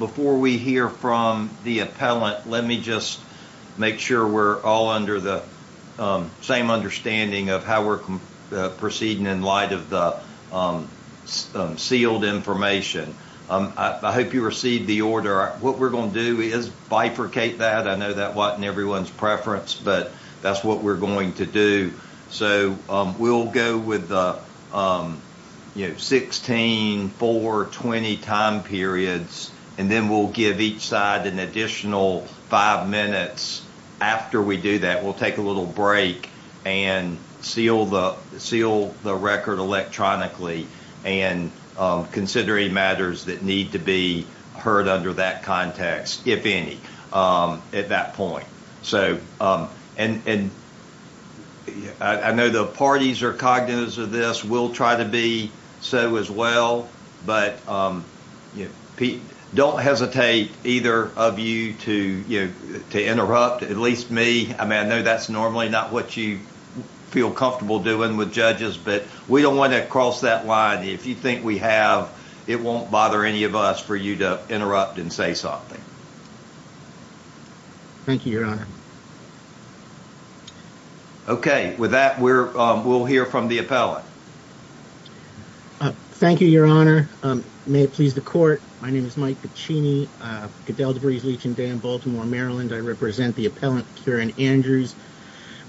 before we hear from the appellant let me just make sure we're all under the same understanding of how we're proceeding in light of the sealed information I hope you received the order what we're going to do is bifurcate that I know that wasn't everyone's preference but that's what we're going to do so we'll go with you know 16, 4, 20 time periods and then we'll give each side an additional five minutes after we do that we'll take a little break and seal the seal the record electronically and considering matters that need to be heard under that at that point so and I know the parties are cognizant of this we'll try to be so as well but don't hesitate either of you to you know to interrupt at least me I mean I know that's normally not what you feel comfortable doing with judges but we don't want to cross that line if you think we have it won't bother any of us for you to interrupt and say something. Thank you your honor. Okay with that we're we'll hear from the appellant. Thank you your honor may it please the court my name is Mike Puccini Cadell DeVries Leach and Dan Baltimore Maryland I represent the appellant Kieran Andrews.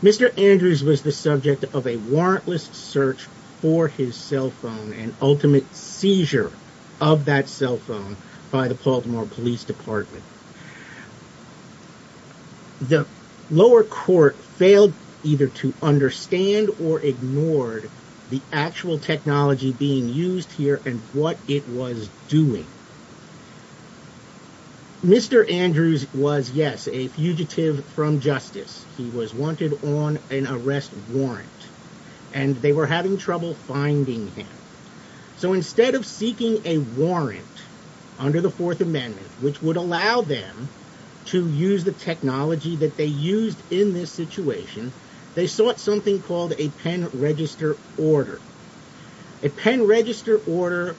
Mr. Andrews was the subject of a warrantless search for his cell phone and ultimate seizure of that cell phone by the Baltimore Police Department. The lower court failed either to understand or ignored the actual technology being used here and what it was doing. Mr. Andrews was yes a fugitive from justice he was wanted on an arrest warrant and they were having trouble finding him so instead of seeking a warrant under the Fourth Amendment which would allow them to use the technology that they used in this situation they sought something called a pen register order. A pen order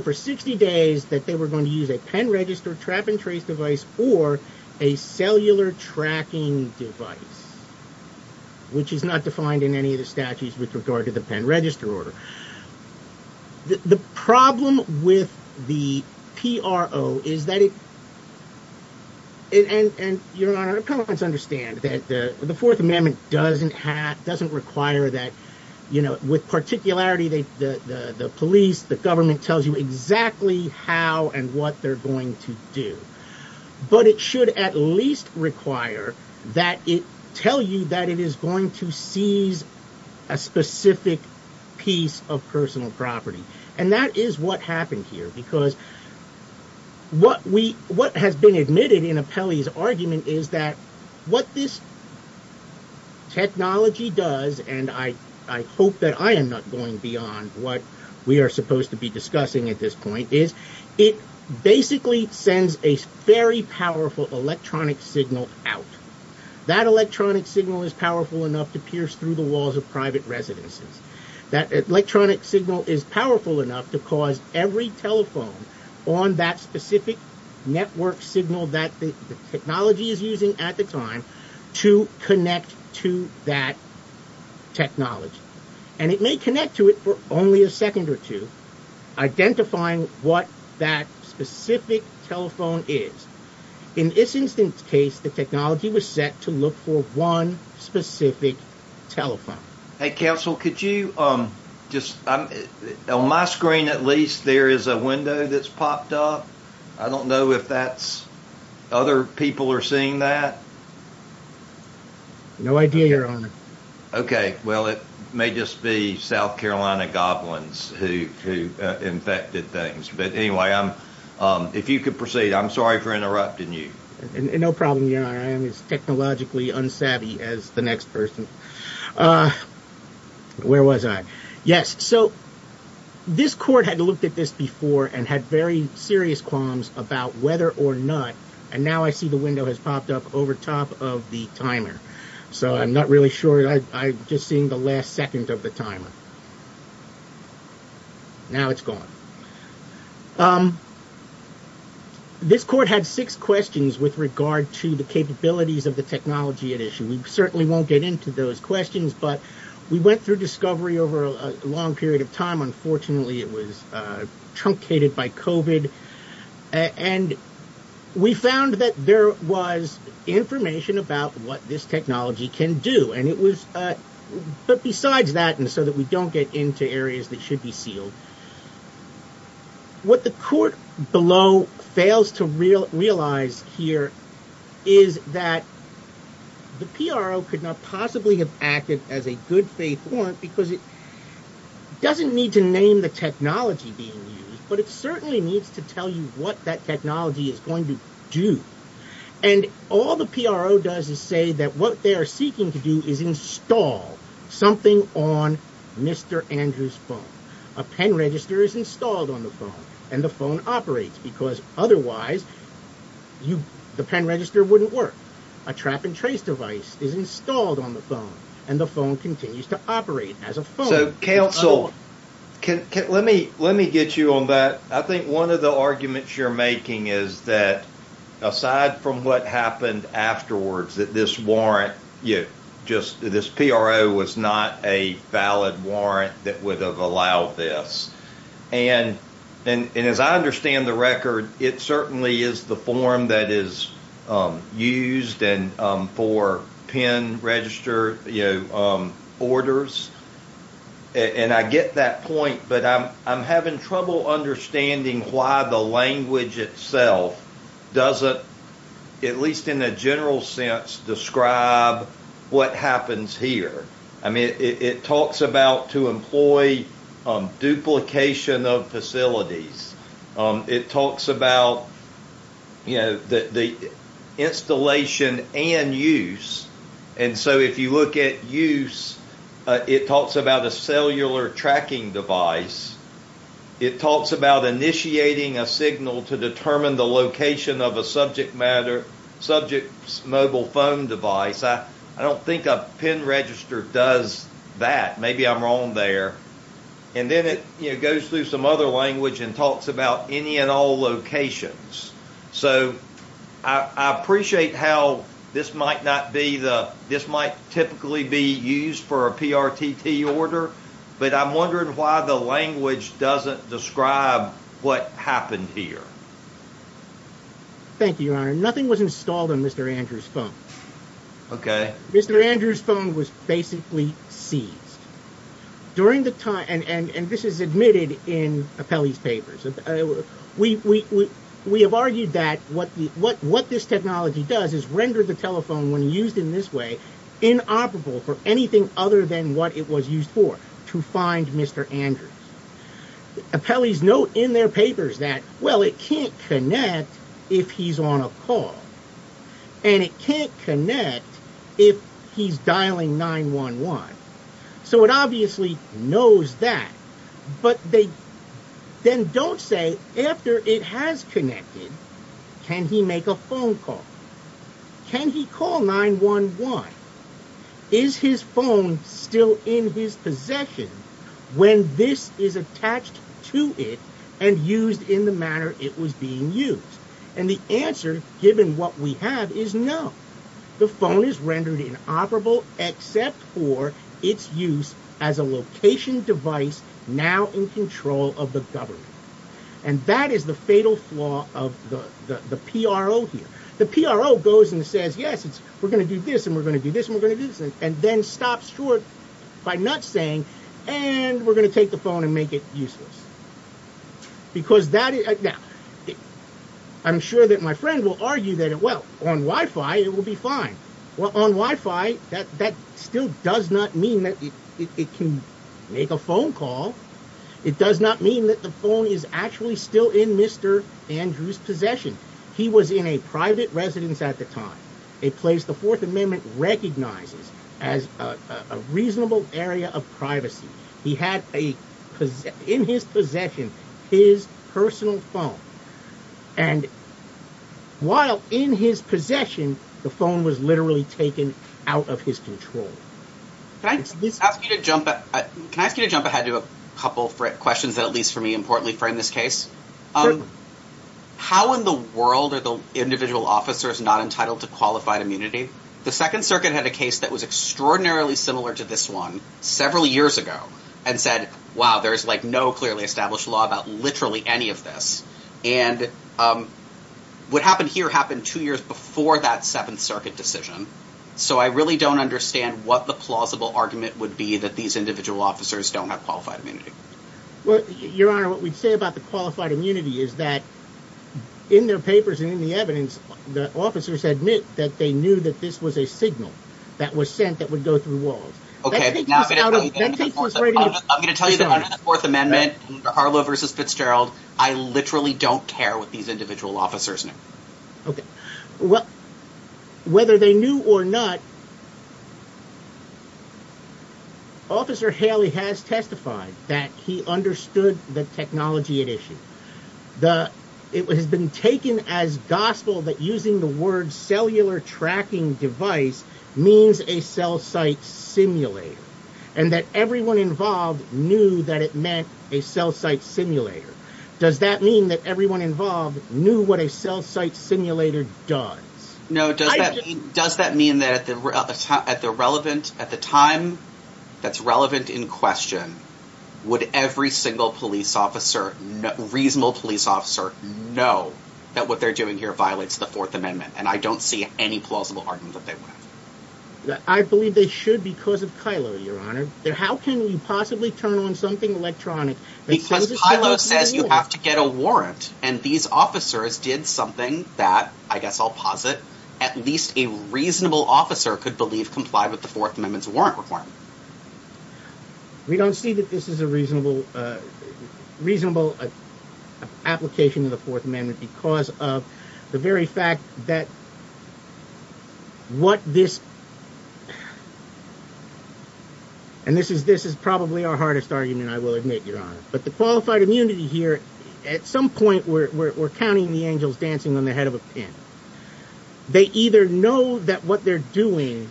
for 60 days that they were going to use a pen register trap and trace device or a cellular tracking device which is not defined in any of the statutes with regard to the pen register order. The problem with the PRO is that it and your honor appellants understand that the Fourth Amendment doesn't have doesn't require that you know with particularity the police the government tells you exactly how and what they're going to do but it should at least require that it tell you that it is going to seize a specific piece of personal property and that is what happened here because what we what has been admitted in a appellee's argument is that what this technology does and I hope that I am not going beyond what we are supposed to be discussing at this point is it basically sends a very powerful electronic signal out. That electronic signal is powerful enough to pierce through the walls of private residences. That electronic signal is powerful enough to cause every telephone on that specific network signal that the technology is using at the time to connect to that technology and it may connect to it for only a second or two identifying what that specific telephone is. In this instance case the technology was set to look for one specific telephone. Hey counsel could you just on my screen at least there is a window that's popped up I don't know if that's where other people are seeing that? No idea your honor. Okay well it may just be South Carolina goblins who infected things but anyway I'm if you could proceed I'm sorry for interrupting you. No problem your honor I am as technologically unsavvy as the next person. Where was I? Yes so this court had looked at this before and had very serious qualms about whether or not and now I see the window has popped up over top of the timer so I'm not really sure I'm just seeing the last second of the timer. Now it's gone. This court had six questions with regard to the capabilities of the technology at issue. We certainly won't get into those questions but we went through discovery over a long period of time unfortunately it was truncated by COVID and we found that there was information about what this technology can do and it was but besides that and so that we don't get into areas that should be sealed what the court below fails to realize here is that the PRO could not possibly have acted as a good faith warrant because it doesn't need to name the technology being used but it certainly needs to tell you what that technology is going to do and all the PRO does is say that what they are seeking to do is install something on mr. Andrews phone a pen register is installed on the phone and the phone operates because otherwise you the pen register wouldn't work a trap and trace device is installed on the phone and the phone continues to operate So counsel can let me let me get you on that I think one of the arguments you're making is that aside from what happened afterwards that this warrant you just this PRO was not a valid warrant that would have allowed this and and as I understand the record it certainly is the form that is used and for pen register you know orders and I get that point but I'm I'm having trouble understanding why the language itself doesn't at least in a general sense describe what happens here I mean it talks about to employ duplication of facilities it talks about you know that the installation and use and so if you look at use it talks about a cellular tracking device it talks about initiating a signal to determine the location of a subject matter subject mobile phone device I I don't think a pen register does that maybe I'm wrong there and then it goes through some other language and talks about any and all locations so I appreciate how this might not be the this might typically be used for a PRTT order but I'm wondering why the language doesn't describe what happened here thank you nothing was installed in mr. Andrews phone okay mr. Andrews phone was basically seized during the time and and and this is admitted in a Peli's papers we we we have argued that what the what what this technology does is render the telephone when used in this way inoperable for anything other than what it was used for to find mr. Andrews a Peli's note in their papers that well it can't connect if he's on a call and it can't connect if he's dialing 9-1-1 so it obviously knows that but they then don't say after it has connected can he make a phone call can he call 9-1-1 is his phone still in his possession when this is attached to it and used in the manner it was being used and the answer given what we have is no the phone is rendered inoperable except for its use as a location device now in control of the government and that is the fatal flaw of the the PRO here the PRO goes and says yes it's we're gonna do this and we're gonna do this and we're gonna do this and then stops short by not saying and we're gonna take the phone and make it because that is now I'm sure that my friend will argue that it well on Wi-Fi it will be fine well on Wi-Fi that that still does not mean that it can make a phone call it does not mean that the phone is actually still in mr. Andrews possession he was in a private residence at the time it plays the Fourth possession his personal phone and while in his possession the phone was literally taken out of his control thanks let's ask you to jump at can I ask you to jump ahead to a couple questions that at least for me importantly frame this case um how in the world are the individual officers not entitled to qualified immunity the Second Circuit had a case that was extraordinarily similar to this one several years ago and said wow there's like no clearly established law about literally any of this and what happened here happened two years before that Seventh Circuit decision so I really don't understand what the plausible argument would be that these individual officers don't have qualified immunity well your honor what we'd say about the qualified immunity is that in their papers and in the evidence the officers admit that they knew that this was a signal that was sent that would go through walls okay I'm gonna tell you the fourth amendment Harlow versus Fitzgerald I literally don't care what these individual officers know okay well whether they knew or not officer Haley has testified that he understood the technology at issue the it has been taken as gospel that using the word cellular tracking device means a cell-site simulator and that everyone involved knew that it meant a cell-site simulator does that mean that everyone involved knew what a cell-site simulator does no does that does that mean that at the relevant at the time that's relevant in question would every single police officer reasonable police officer know that what they're doing here violates the Fourth Amendment and I don't see any plausible argument that they went that I believe they should because of Kylo your honor there how can we possibly turn on something electronic because I love says you have to get a warrant and these officers did something that I guess I'll posit at least a reasonable officer could believe comply with the Fourth Amendment's warrant requirement we don't see that this is a reasonable reasonable application in the Fourth Amendment because of the very fact that what this and this is this is probably our hardest argument I will admit your honor but the qualified immunity here at some point we're counting the angels dancing on the head of a pin they either know that what they're doing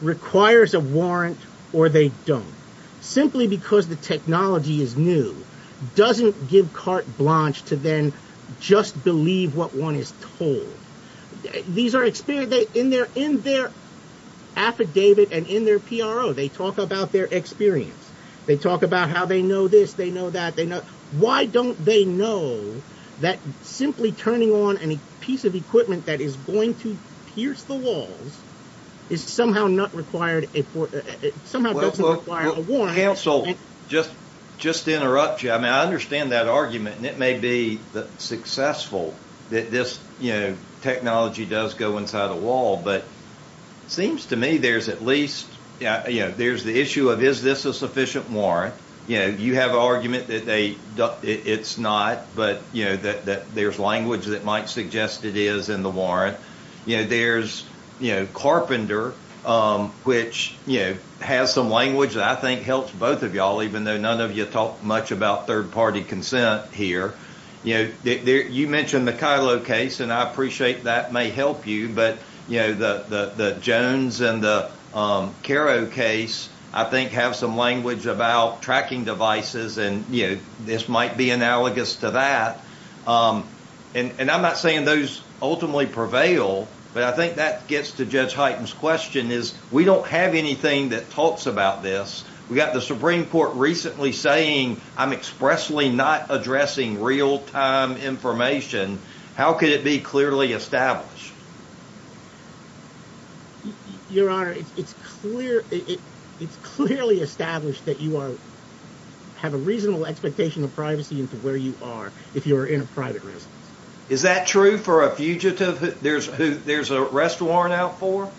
requires a warrant or they don't simply because the technology is new doesn't give carte blanche to then just believe what one is told these are experienced in their in their affidavit and in their PRO they talk about their experience they talk about how they know this they know that they know why don't they know that simply turning on any piece of equipment that is going to pierce the walls is somehow not required a warrant counsel just just interrupt you I mean I understand that argument and it may be successful that this you know technology does go inside a wall but seems to me there's at least yeah you know there's the issue of is this a sufficient warrant you know you have argument that they it's not but you know that there's language that might suggest it is in the warrant you know there's you know carpenter which you know has some language that I think helps both of y'all even though none of you talk much about third-party consent here you know there you mentioned the Kylo case and I appreciate that may help you but you know the the Jones and the Karo case I think have some language about tracking devices and you know this might be analogous to that and and I'm not saying those ultimately prevail but I think that gets to judge heightens question is we don't have anything that talks about this we got the Supreme Court recently saying I'm expressly not addressing real-time information how could it be clearly established your honor it's clear it's clearly established that you are have a reasonable expectation of privacy into where you are if you are in private is that true for a fugitive there's a there's a restaurant out for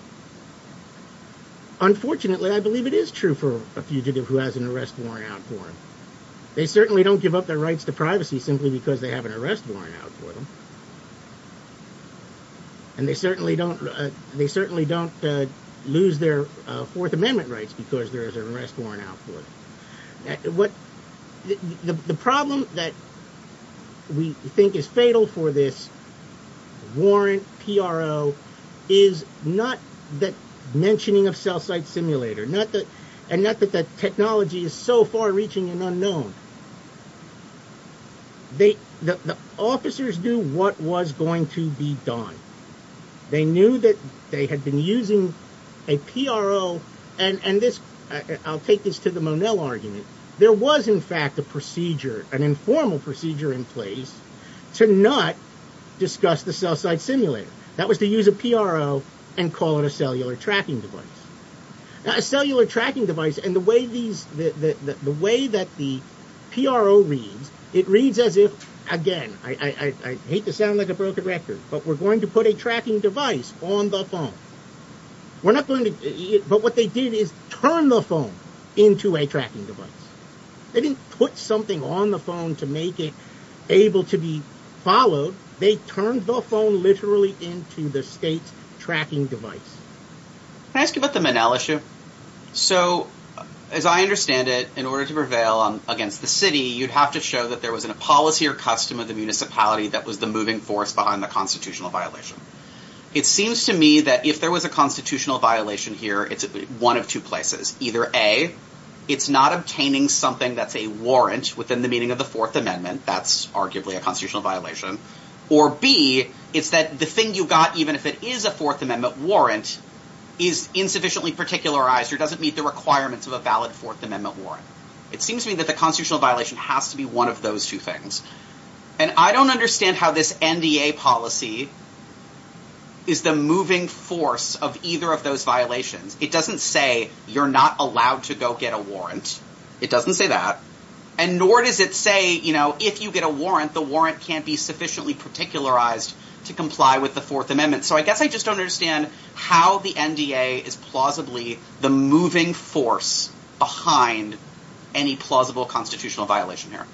unfortunately I believe it is true for a fugitive who has an arrest warrant out for they certainly don't give up their rights to privacy simply because they have an arrest warrant out for them and they certainly don't they certainly don't lose their Fourth Amendment rights because there's an arrest warrant out for them. The problem that we think is fatal for this warrant PRO is not that mentioning of cell site simulator not that and not that that technology is so far-reaching and unknown they the officers knew what was going to be done they knew that they had been using a PRO and and this I'll take this to the O'Neill argument there was in fact a procedure an informal procedure in place to not discuss the cell site simulator that was to use a PRO and call it a cellular tracking device a cellular tracking device and the way these the way that the PRO reads it reads as if again I hate to sound like a broken record but we're going to put a tracking device on the phone we're not going to but what they did is turn the phone into a tracking device they didn't put something on the phone to make it able to be followed they turned the phone literally into the state's tracking device. Can I ask you about the Menel issue? So as I understand it in order to prevail on against the city you'd have to show that there was a policy or custom of the municipality that was the moving force behind the constitutional violation it seems to me that if there was a constitutional violation here it's one of two places either a it's not obtaining something that's a warrant within the meaning of the Fourth Amendment that's arguably a constitutional violation or B it's that the thing you got even if it is a Fourth Amendment warrant is insufficiently particularized or doesn't meet the requirements of a valid Fourth Amendment warrant it seems to me that the constitutional violation has to be one of those two things and I don't understand how this NDA policy is the moving force of either of those violations it doesn't say you're not allowed to go get a warrant it doesn't say that and nor does it say you know if you get a warrant the warrant can't be sufficiently particularized to comply with the Fourth Amendment so I guess I just don't understand how the NDA is plausibly the moving force behind any plausible constitutional violation here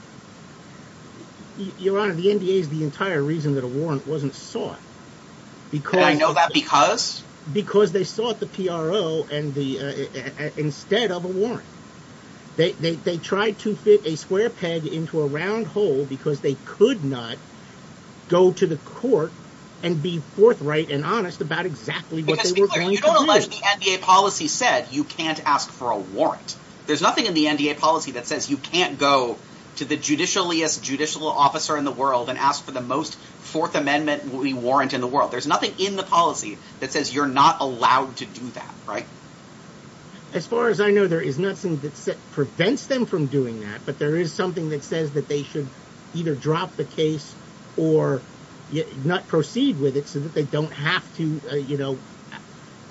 your honor the NDA is the entire reason that a warrant wasn't sought because I know that because because they sought the PRO and the instead of a warrant they tried to fit a square peg into a round hole because they could not go to the court and be forthright and honest about exactly what the NDA policy said you can't ask for a warrant there's nothing in the NDA policy that says you can't go to the judicially as judicial officer in the world and ask for the most Fourth Amendment we warrant in the world there's nothing in the policy that says you're not allowed to do that right as far as I know there is nothing that prevents them from doing that but there is something that says that they should either drop the case or not proceed with it so that they don't have to you know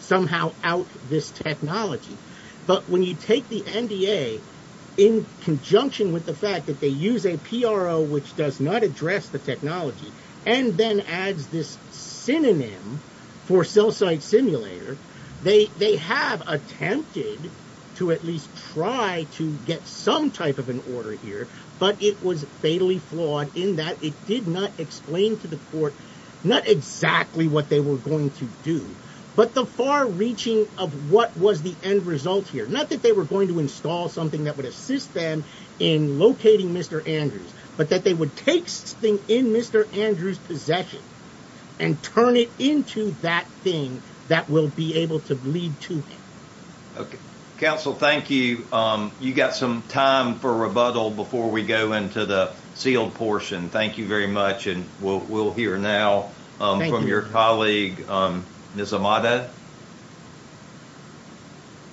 somehow out this technology but when you take the NDA in conjunction with the fact that they use a PRO which does not address the technology and then adds this synonym for cell site simulator they they have attempted to at least try to get some type of an order here but it was fatally flawed in that it did not not exactly what they were going to do but the far-reaching of what was the end result here not that they were going to install something that would assist them in locating mr. Andrews but that they would take thing in mr. Andrews possession and turn it into that thing that will be able to lead to council thank you you got some time for rebuttal before we go into the sealed portion thank you very much and we'll hear now from your colleague this Amada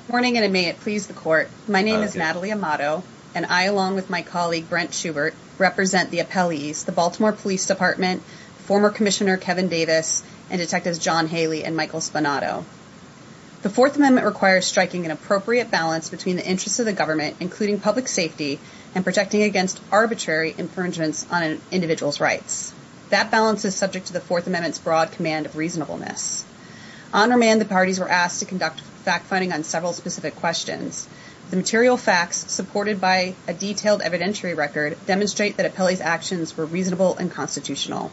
morning and it may it please the court my name is Natalie Amado and I along with my colleague Brent Schubert represent the appellees the Baltimore Police Department former Commissioner Kevin Davis and detectives John Haley and Michael Spunato the Fourth Amendment requires striking an appropriate balance between the interests of the government including public safety and protecting against arbitrary infringements on an individual's rights that balance is subject to the Fourth Amendment's broad command of reasonableness on remand the parties were asked to conduct fact-finding on several specific questions the material facts supported by a detailed evidentiary record demonstrate that appellees actions were reasonable and constitutional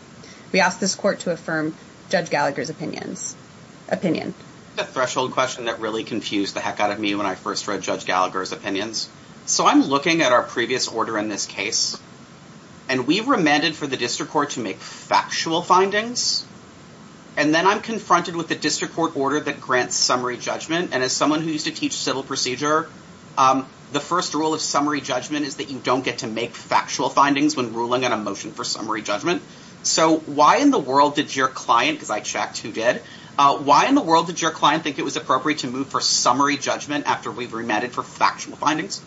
we asked this court to affirm judge Gallagher's opinions opinion the threshold question that really confused the heck out of me when I first read judge Gallagher's opinions so I'm looking at our previous order in this case and we remanded for the district court to make factual findings and then I'm confronted with the district court order that grants summary judgment and as someone who used to teach civil procedure the first rule of summary judgment is that you don't get to make factual findings when ruling on a motion for summary judgment so why in the world did your client because I checked who did why in the world did your client think it was appropriate to move for summary judgment after we've remanded for factual findings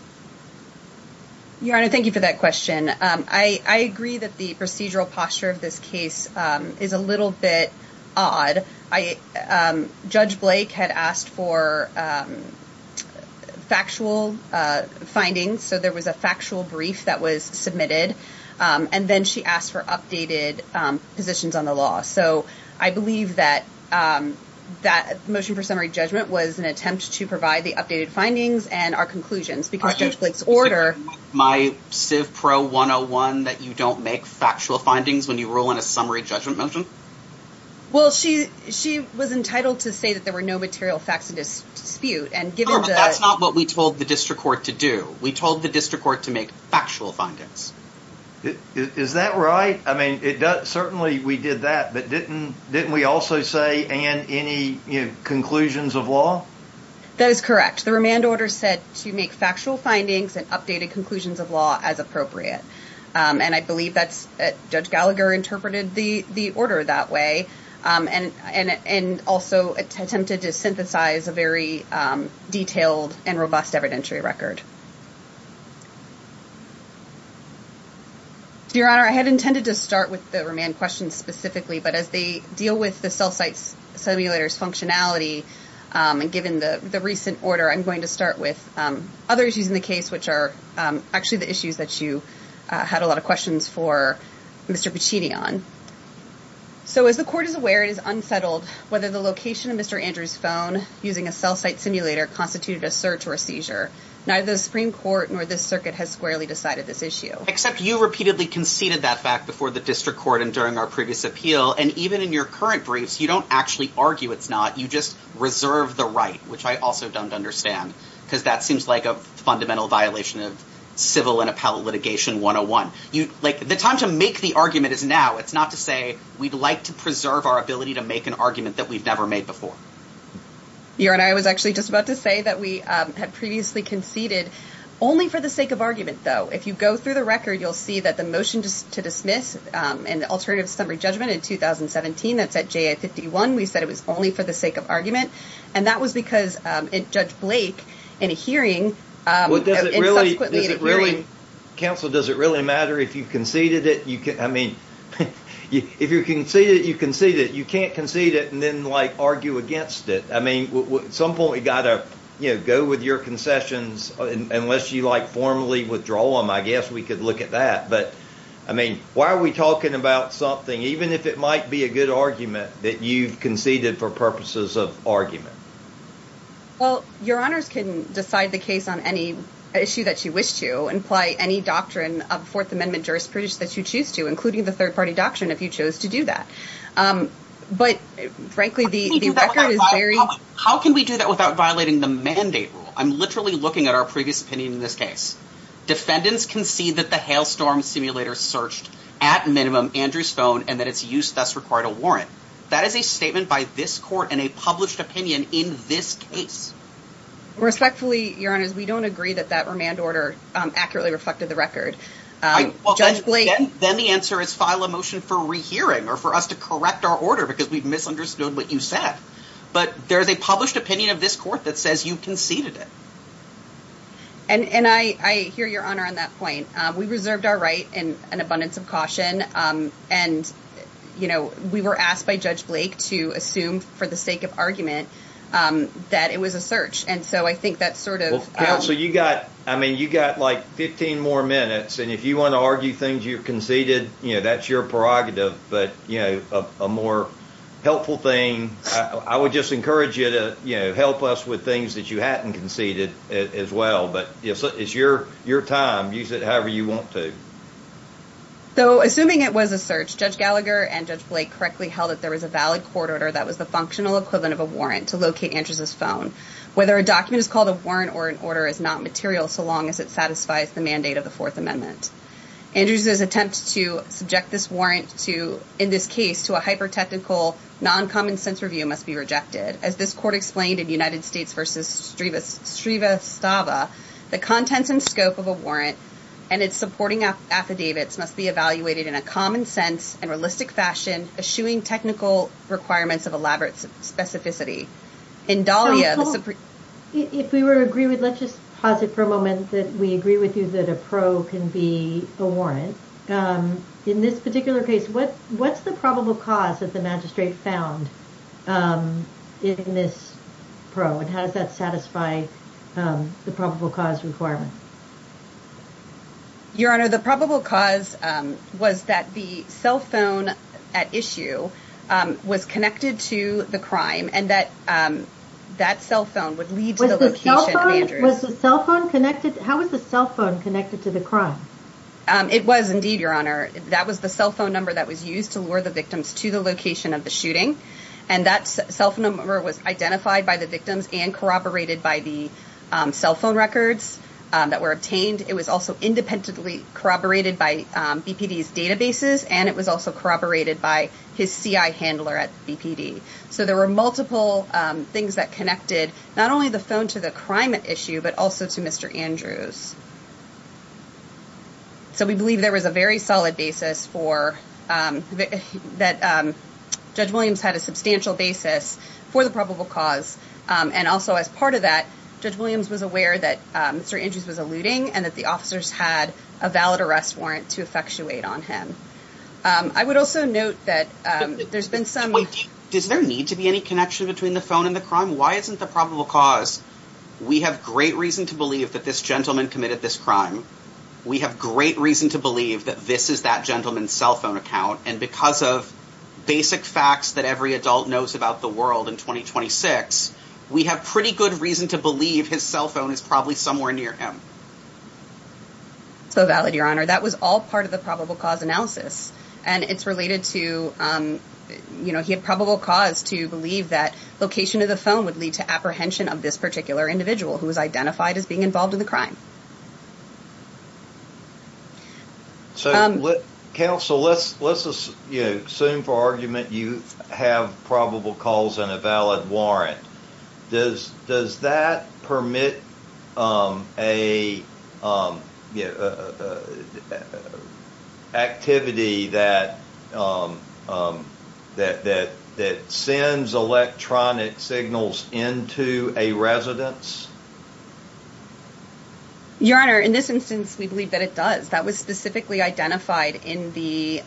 your honor thank you for that question I I agree that the procedural posture of this case is a little bit odd I judge Blake had asked for factual findings so there was a factual brief that was submitted and then she asked for updated positions on the law so I believe that that motion for summary judgment was an attempt to provide the updated findings and our conclusions because judge Blake's order my civ pro 101 that you don't make factual findings when you roll in a summary judgment motion well she she was entitled to say that there were no material facts of this dispute and given that's not what we told the district court to do we told the district court to make factual findings is that right I mean it does certainly we did that but didn't didn't we also say and any conclusions of law that is correct the remand order said to make factual findings and updated conclusions of law as appropriate and I believe that's judge Gallagher interpreted the the order that way and and and also attempted to synthesize a very detailed and robust evidentiary record your honor I had intended to start with the remand questions specifically but as they deal with the cell sites simulators functionality and given the the recent order I'm going to start with other issues in the case which are actually the issues that you had a lot of questions for mr. Puccini on so as the court is aware it is unsettled whether the location of mr. Andrews phone using a cell site simulator constituted a search or a seizure neither the Supreme Court nor this circuit has squarely decided this issue except you repeatedly conceded that fact before the district court and during our previous appeal and even in your current briefs you don't actually argue it's not you just reserve the right which I also don't understand because that seems like a fundamental violation of civil and appellate litigation 101 you like the time to make the argument is now it's not to say we'd like to preserve our ability to make an argument that we've never made before you're and I was actually just about to say that we had previously conceded only for the sake of argument though if you go through the record you'll see that the motion to dismiss an alternative summary judgment in 2017 that's at J at 51 we said it was only for the sake of argument and that was because it judge Blake in a hearing what does it really is it really counsel does it really matter if you conceded it you can I mean you if you can see that you can see that you can't concede it and then like argue against it I mean what some point we got a you know go with your concessions unless you like formally withdraw them I guess we could look at that but I mean why are we talking about something even if it might be a good argument that you've conceded for purposes of argument well your honors can decide the case on any issue that you wish to imply any doctrine of Fourth Amendment jurisprudence that you choose to including the third party doctrine if you chose to do that but frankly the record is very how can we do that without violating the mandate rule I'm literally looking at our previous opinion in this case defendants concede that the hailstorm simulator searched at minimum Andrews phone and that it's used thus required a warrant that is a statement by this court and a published opinion in this case respectfully your honors we don't agree that that remand order accurately reflected the record then the answer is file a motion for rehearing or for us to correct our order because we've misunderstood what you said but there's a published opinion of this court that you conceded it and and I I hear your honor on that point we reserved our right in an abundance of caution and you know we were asked by Judge Blake to assume for the sake of argument that it was a search and so I think that sort of counsel you got I mean you got like 15 more minutes and if you want to argue things you've conceded you know that's your prerogative but you know a more helpful thing I would just encourage you to you know help us with things that you hadn't conceded as well but yes it's your your time use it however you want to though assuming it was a search Judge Gallagher and Judge Blake correctly held that there was a valid court order that was the functional equivalent of a warrant to locate Andrews's phone whether a document is called a warrant or an order is not material so long as it satisfies the mandate of the Fourth Amendment Andrews's attempt to subject this warrant to in this case to a hyper-technical non-common-sense review must be rejected as this court explained in United States versus Strieva Strava the contents and scope of a warrant and it's supporting up affidavits must be evaluated in a common sense and realistic fashion eschewing technical requirements of elaborate specificity in Dahlia if we were agree with let's just pause it for a moment that we agree with you that a pro can be a warrant in this particular case what what's the probable cause that the magistrate found in this pro and how does that satisfy the probable cause requirement your honor the probable cause was that the cell phone at issue was connected to the crime and that that cell phone would lead to the location Andrews's cell phone connected how is the cell phone connected to the crime it was indeed your honor that was the cell phone number that was used to transfer the victims to the location of the shooting and that cell phone number was identified by the victims and corroborated by the cell phone records that were obtained it was also independently corroborated by BPD's databases and it was also corroborated by his CI handler at BPD so there were multiple things that connected not only the phone to the crime at issue but also to mr. Andrews so we believe there was a very solid basis for that judge Williams had a substantial basis for the probable cause and also as part of that judge Williams was aware that mr. Andrews was alluding and that the officers had a valid arrest warrant to effectuate on him I would also note that there's been some does there need to be any connection between the phone and the isn't the probable cause we have great reason to believe that this gentleman committed this crime we have great reason to believe that this is that gentleman's cell phone account and because of basic facts that every adult knows about the world in 2026 we have pretty good reason to believe his cell phone is probably somewhere near him so valid your honor that was all part of the probable cause analysis and it's related to you know he had probable cause to believe that location of the phone would lead to apprehension of this particular individual who was identified as being involved in the crime so let counsel let's let's assume for argument you have probable calls and a valid that that that sends electronic signals into a residence your honor in this instance we believe that it does that was specifically identified in the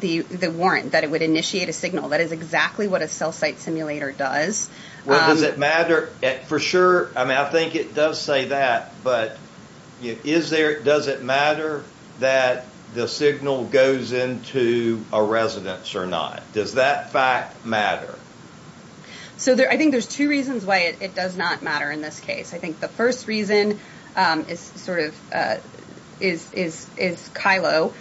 the the warrant that it would initiate a signal that is exactly what a cell site simulator does what does it matter for sure I mean I think it does say that but is there does it matter that the signal goes into a residence or not does that fact matter so there I think there's two reasons why it does not matter in this case I think the first reason is sort of is is is Kylo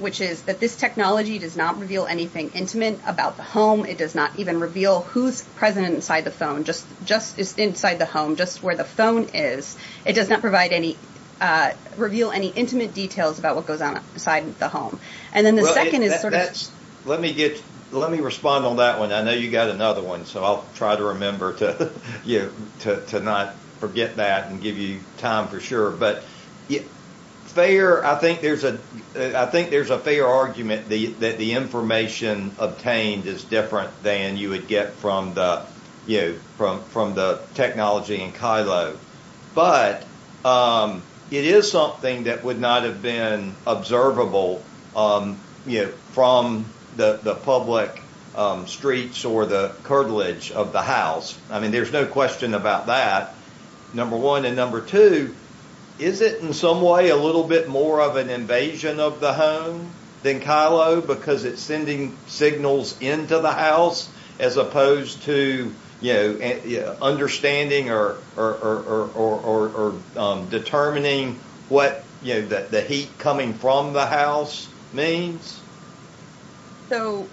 which is that this technology does not reveal anything intimate about the home it does not even reveal who's present inside the phone just just is inside the home just where the phone is it does not provide any reveal any intimate details about what goes on inside the home and then the second is sort of let me get let me respond on that one I know you got another one so I'll try to remember to you to not forget that and give you time for sure but yeah fair I think there's a I think there's a fair argument the that the information obtained is different than you would get from the you from from the technology in Kylo but it is something that would not have been observable you know from the the public streets or the curtilage of the house I mean there's no question about that number one and number two is it in some way a little bit more of an invasion of the home then Kylo because it's sending signals into the house as opposed to you know understanding or determining what you know that the heat coming from the house means so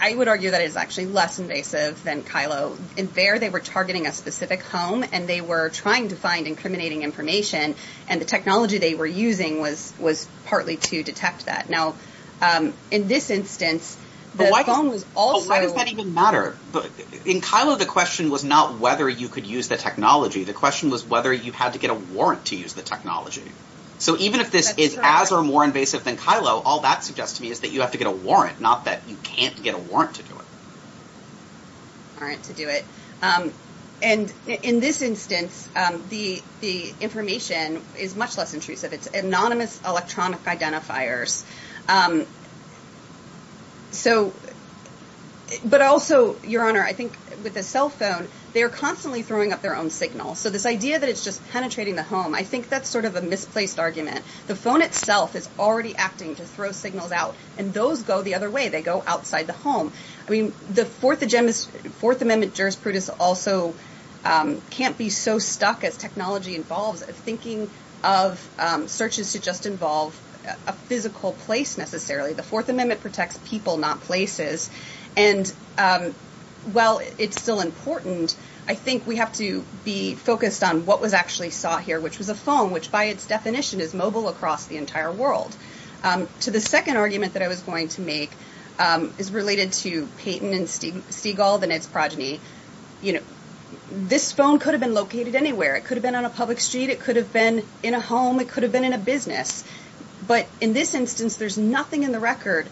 I would argue that is actually less invasive than Kylo in there they were targeting a specific home and they were trying to find incriminating information and the technology they were using was was specifically to detect that now in this instance but why was all right does that even matter but in Kylo the question was not whether you could use the technology the question was whether you had to get a warrant to use the technology so even if this is as or more invasive than Kylo all that suggests to me is that you have to get a warrant not that you can't get a warrant to do it all right to do it and in this instance the the information is much less intrusive it's anonymous electronic identifiers so but also your honor I think with a cell phone they're constantly throwing up their own signal so this idea that it's just penetrating the home I think that's sort of a misplaced argument the phone itself is already acting to throw signals out and those go the other way they go outside the home I mean the fourth agenda is fourth amendment jurisprudence also can't be so stuck as technology involves thinking of searches to just involve a physical place necessarily the fourth amendment protects people not places and well it's still important I think we have to be focused on what was actually saw here which was a phone which by its definition is mobile across the entire world to the second argument that I was going to make is related to Peyton and Steven Seagal than its progeny you know this phone could have been located anywhere it could have been on a public street it could have been in a home it could have been in a business but in this instance there's nothing in the record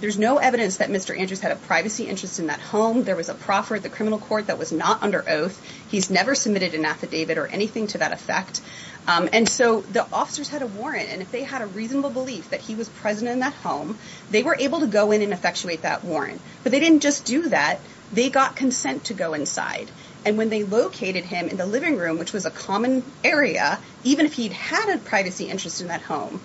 there's no evidence that mr. Andrews had a privacy interest in that home there was a proffer at the criminal court that was not under oath he's never submitted an affidavit or anything to that effect and so the officers had a warrant and if they had a reasonable belief that he was present in that home they were able to go in and effectuate that warrant but they didn't just do that they got consent to go inside and when they located him in the living room which was a common area even if he'd had a privacy interest in that home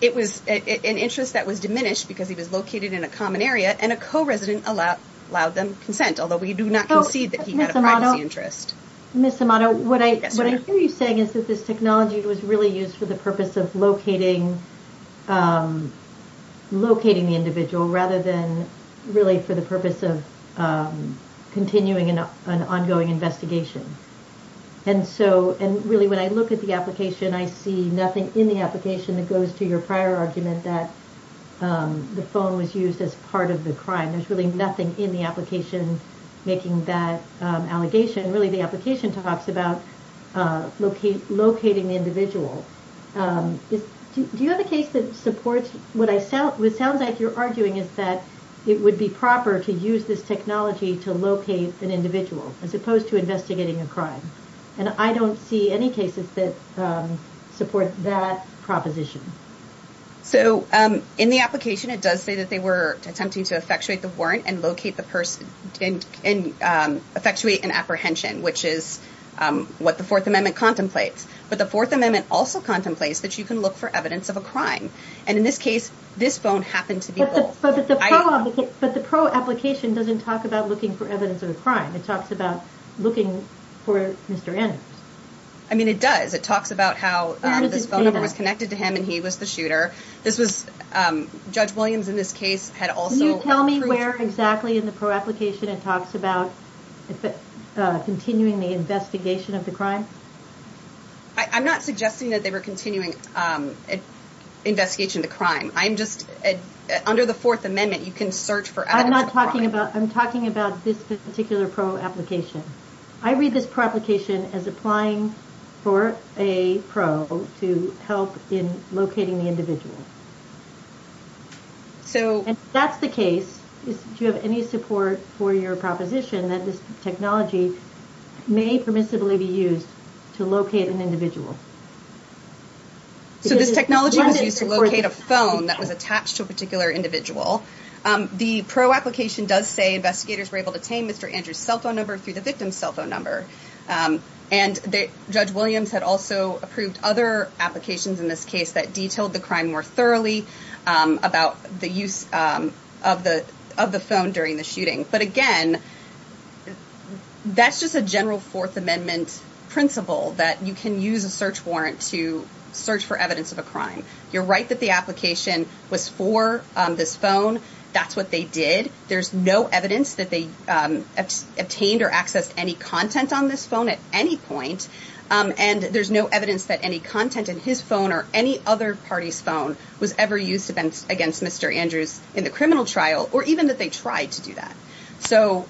it was an interest that was diminished because he was located in a common area and a co resident allowed allowed them consent although we do not see that he had a privacy interest miss Amato what I what I hear you saying is that this technology was really used for the purpose of locating locating the individual rather than really for the purpose of continuing an ongoing investigation and so and really when I look at the application I see nothing in the application that goes to your prior argument that the phone was used as part of the crime there's really nothing in the application making that allegation really the application talks about locate locating the individual do you have a case that supports what I sound what sounds like you're arguing is that it would be proper to use this technology to locate an individual as opposed to investigating a crime and I don't see any cases that support that proposition so in the application it does say that they were attempting to effectuate the warrant and locate the person in effectuate an apprehension which is what the Fourth Amendment contemplates but the Fourth Amendment also contemplates that you can look for evidence of a crime and in this case this phone happened to be but the pro application doesn't talk about looking for evidence of a crime it talks about looking for mr. in I mean it does it talks about how this phone number was connected to him and he was the shooter this was judge Williams in this case had also tell me where exactly in the pro application it talks about continuing the investigation of the crime I'm not suggesting that they were continuing investigation the crime I'm just under the Fourth Amendment you can search for I'm not talking about I'm talking about this particular pro application I read this proplication as applying for a pro to help in locating the individual so that's the case is do you have any support for your proposition that this technology may permissibly be used to locate an individual so this technology is to locate a phone that was attached to a particular individual the pro application does say investigators were able to tame mr. Andrews cell phone number through the victim's cell phone number and the judge Williams had also approved other applications in this case that detailed the crime more thoroughly about the use of the of the phone during the shooting but again that's just a general Fourth Amendment principle that you can use a search warrant to search for evidence of a crime you're right that the application was for this phone that's what they did there's no evidence that they obtained or accessed any content on this phone at any point and there's no evidence that any content in his phone or any other party's phone was ever used events against mr. Andrews in the criminal trial or even that they tried to do that so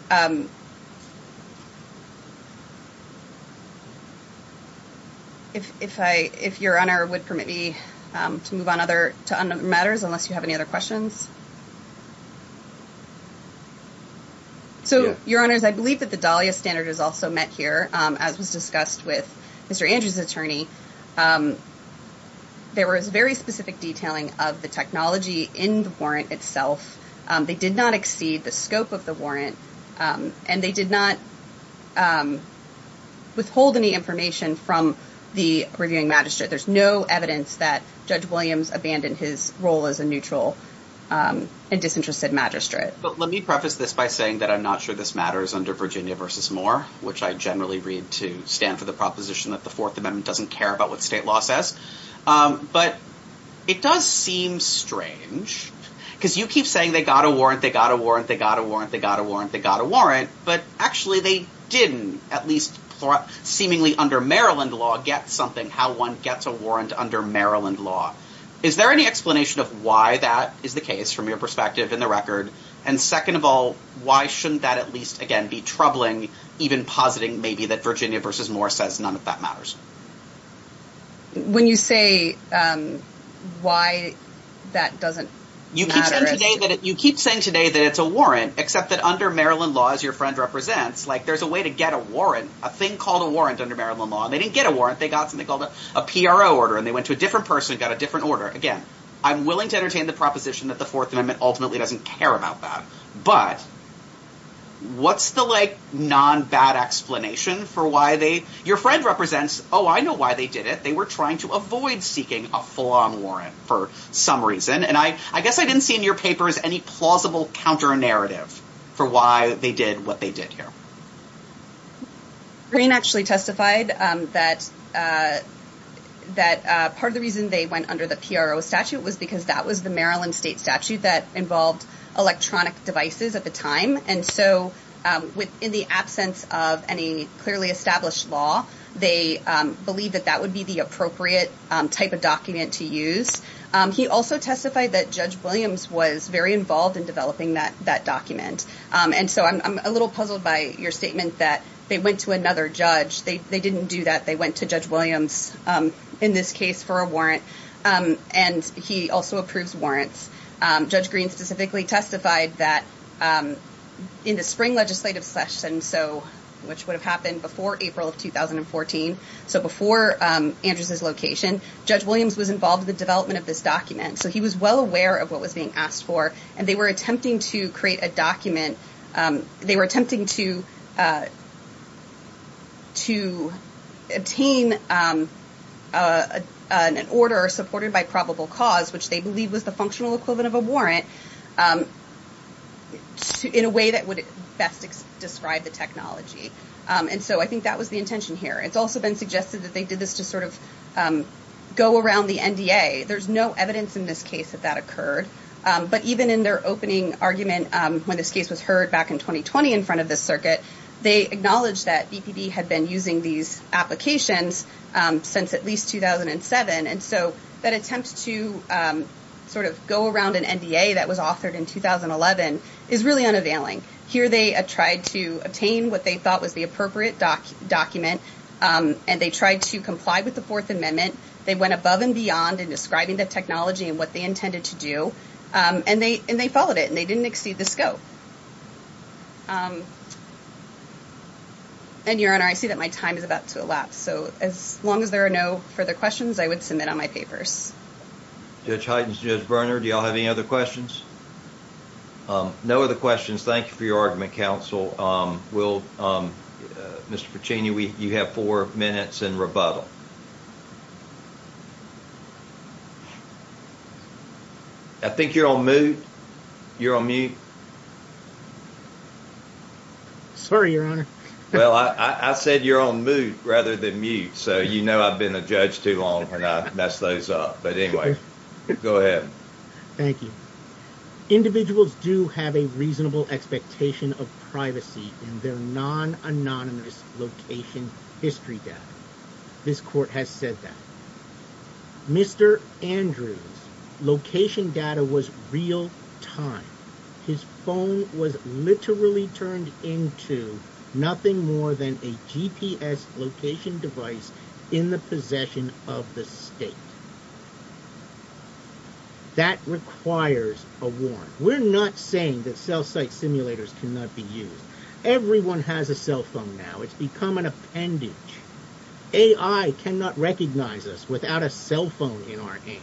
if I if your honor would permit me to move on other two other matters unless you have any other questions so your honors I believe that the Dahlia standard is also met here as was discussed with mr. Andrews attorney there was very specific detailing of the technology in the warrant itself they did not exceed the scope of the warrant and they did not withhold any information from the magistrate there's no evidence that judge Williams abandoned his role as a neutral and disinterested magistrate but let me preface this by saying that I'm not sure this matters under Virginia versus more which I generally read to stand for the proposition that the Fourth Amendment doesn't care about what state law says but it does seem strange because you keep saying they got a warrant they got a warrant they got a warrant they got a warrant they got a warrant but actually they didn't at least seemingly under Maryland law get something how one gets a warrant under Maryland law is there any explanation of why that is the case from your perspective in the record and second of all why shouldn't that at least again be troubling even positing maybe that Virginia versus more says none of that matters when you say why that doesn't you keep saying today that it's a warrant except that under Maryland laws your friend represents like there's a way to get a warrant a thing called a warrant under Maryland law they didn't get a warrant they got something called a PRO order and they went to a different person got a different order again I'm willing to entertain the proposition that the Fourth Amendment ultimately doesn't care about that but what's the like non bad explanation for why they your friend represents oh I know why they did it they were trying to avoid seeking a full-on warrant for some reason and I I guess I didn't see in your papers any plausible counter narrative for why they did what they did here Green actually testified that that part of the reason they went under the PRO statute was because that was the Maryland state statute that involved electronic devices at the time and so with in the absence of any clearly established law they believe that that would be the appropriate type of document to use he also testified that Judge Williams was very involved in developing that that document and so I'm a little puzzled by your statement that they went to another judge they didn't do that they went to Judge Williams in this case for a warrant and he also approves warrants Judge Green specifically testified that in the spring legislative session so which would have happened before April of 2014 so before Andrews's location Judge Williams was involved in the development of this document so he was well aware of what was being asked for and they were attempting to create a document they were attempting to to obtain an order supported by probable cause which they believe was the functional equivalent of a warrant in a way that would best describe the technology and so I think that was the intention here it's also been suggested that they did this to sort of go around the NDA there's no evidence in this case that that occurred but even in their opening argument when this case was heard back in 2020 in front of this circuit they acknowledged that BPB had been using these applications since at least 2007 and so that attempt to sort of go around an NDA that was authored in 2011 is really unavailing here they tried to obtain what they thought was the appropriate doc document and they tried to comply with the Fourth Amendment they went above and beyond in describing the technology and what they intended to do and they and they followed it and they didn't exceed the scope and your honor I see that my time is about to elapse so as long as there are no further questions I would submit on my papers Judge Highton's Judge Berner do y'all have any other questions no other questions thank you for your argument counsel will Mr. Puccini we you have four minutes and rebuttal I think you're on mute you're on mute sorry your honor well I said you're on mute rather than mute so you know I've been a judge too long for not mess those up but anyway go ahead thank you individuals do have a reasonable expectation of privacy in their non anonymous location history death this court has said that mr. Andrews location data was real-time his phone was literally turned into nothing more than a GPS location device in the possession of the state that requires a warrant we're not saying that cell site simulators cannot be used everyone has a cell phone now it's become an appendage AI cannot recognize us without a cell phone in our hands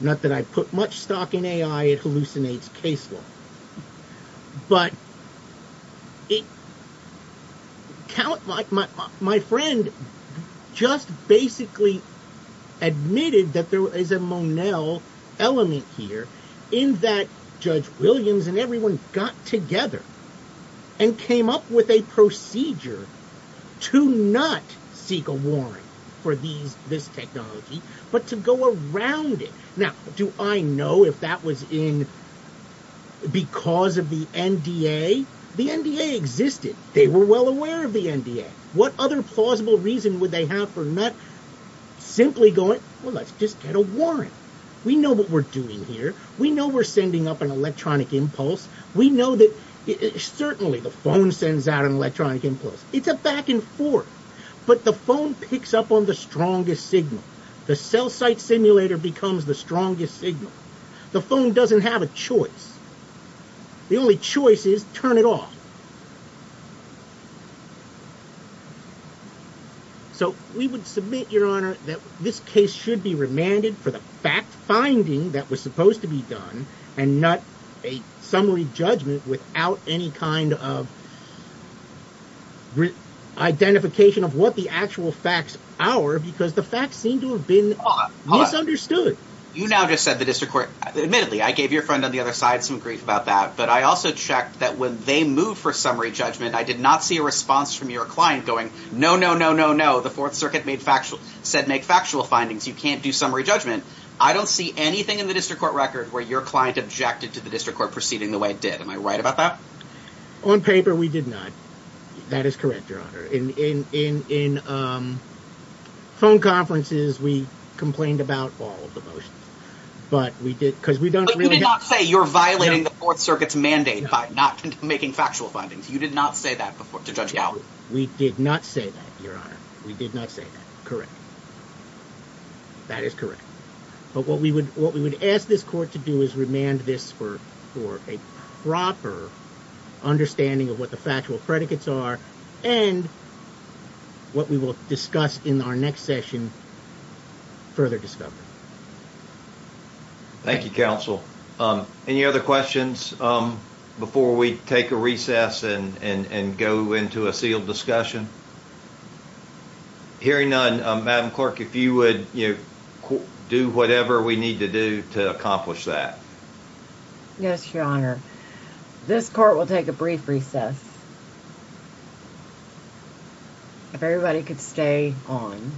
not that I put much stock in AI it case law but it count like my friend just basically admitted that there is a Monell element here in that judge Williams and everyone got together and came up with a procedure to not seek a warrant for these this technology but to around it now do I know if that was in because of the NDA the NDA existed they were well aware of the NDA what other plausible reason would they have for not simply going well let's just get a warrant we know what we're doing here we know we're sending up an electronic impulse we know that it certainly the phone sends out an electronic impulse it's a back-and-forth but the phone picks up on the strongest signal the cell site simulator becomes the strongest signal the phone doesn't have a choice the only choice is turn it off so we would submit your honor that this case should be remanded for the fact finding that was supposed to be done and not a summary judgment without any kind of identification of what the actual facts our because the facts seem to have been misunderstood you now just said the district court admittedly I gave your friend on the other side some grief about that but I also checked that when they move for summary judgment I did not see a response from your client going no no no no no the Fourth Circuit made factual said make factual findings you can't do summary judgment I don't see anything in the district court record where your client objected to the district court proceeding the way it did am I right about that on paper we did not that is correct your honor in in in in phone conferences we complained about all of the motions but we did because we don't really not say you're violating the Fourth Circuit's mandate by not making factual findings you did not say that before to judge you we did not say that your honor we did not say that correct that is correct but what we would ask this court to do is remand this for for a proper understanding of what the factual predicates are and what we will discuss in our next session further discovery thank you counsel any other questions before we take a recess and and and go into a sealed discussion hearing none madam clerk if you would do whatever we need to do to accomplish that yes your honor this court will take a brief recess if everybody could stay on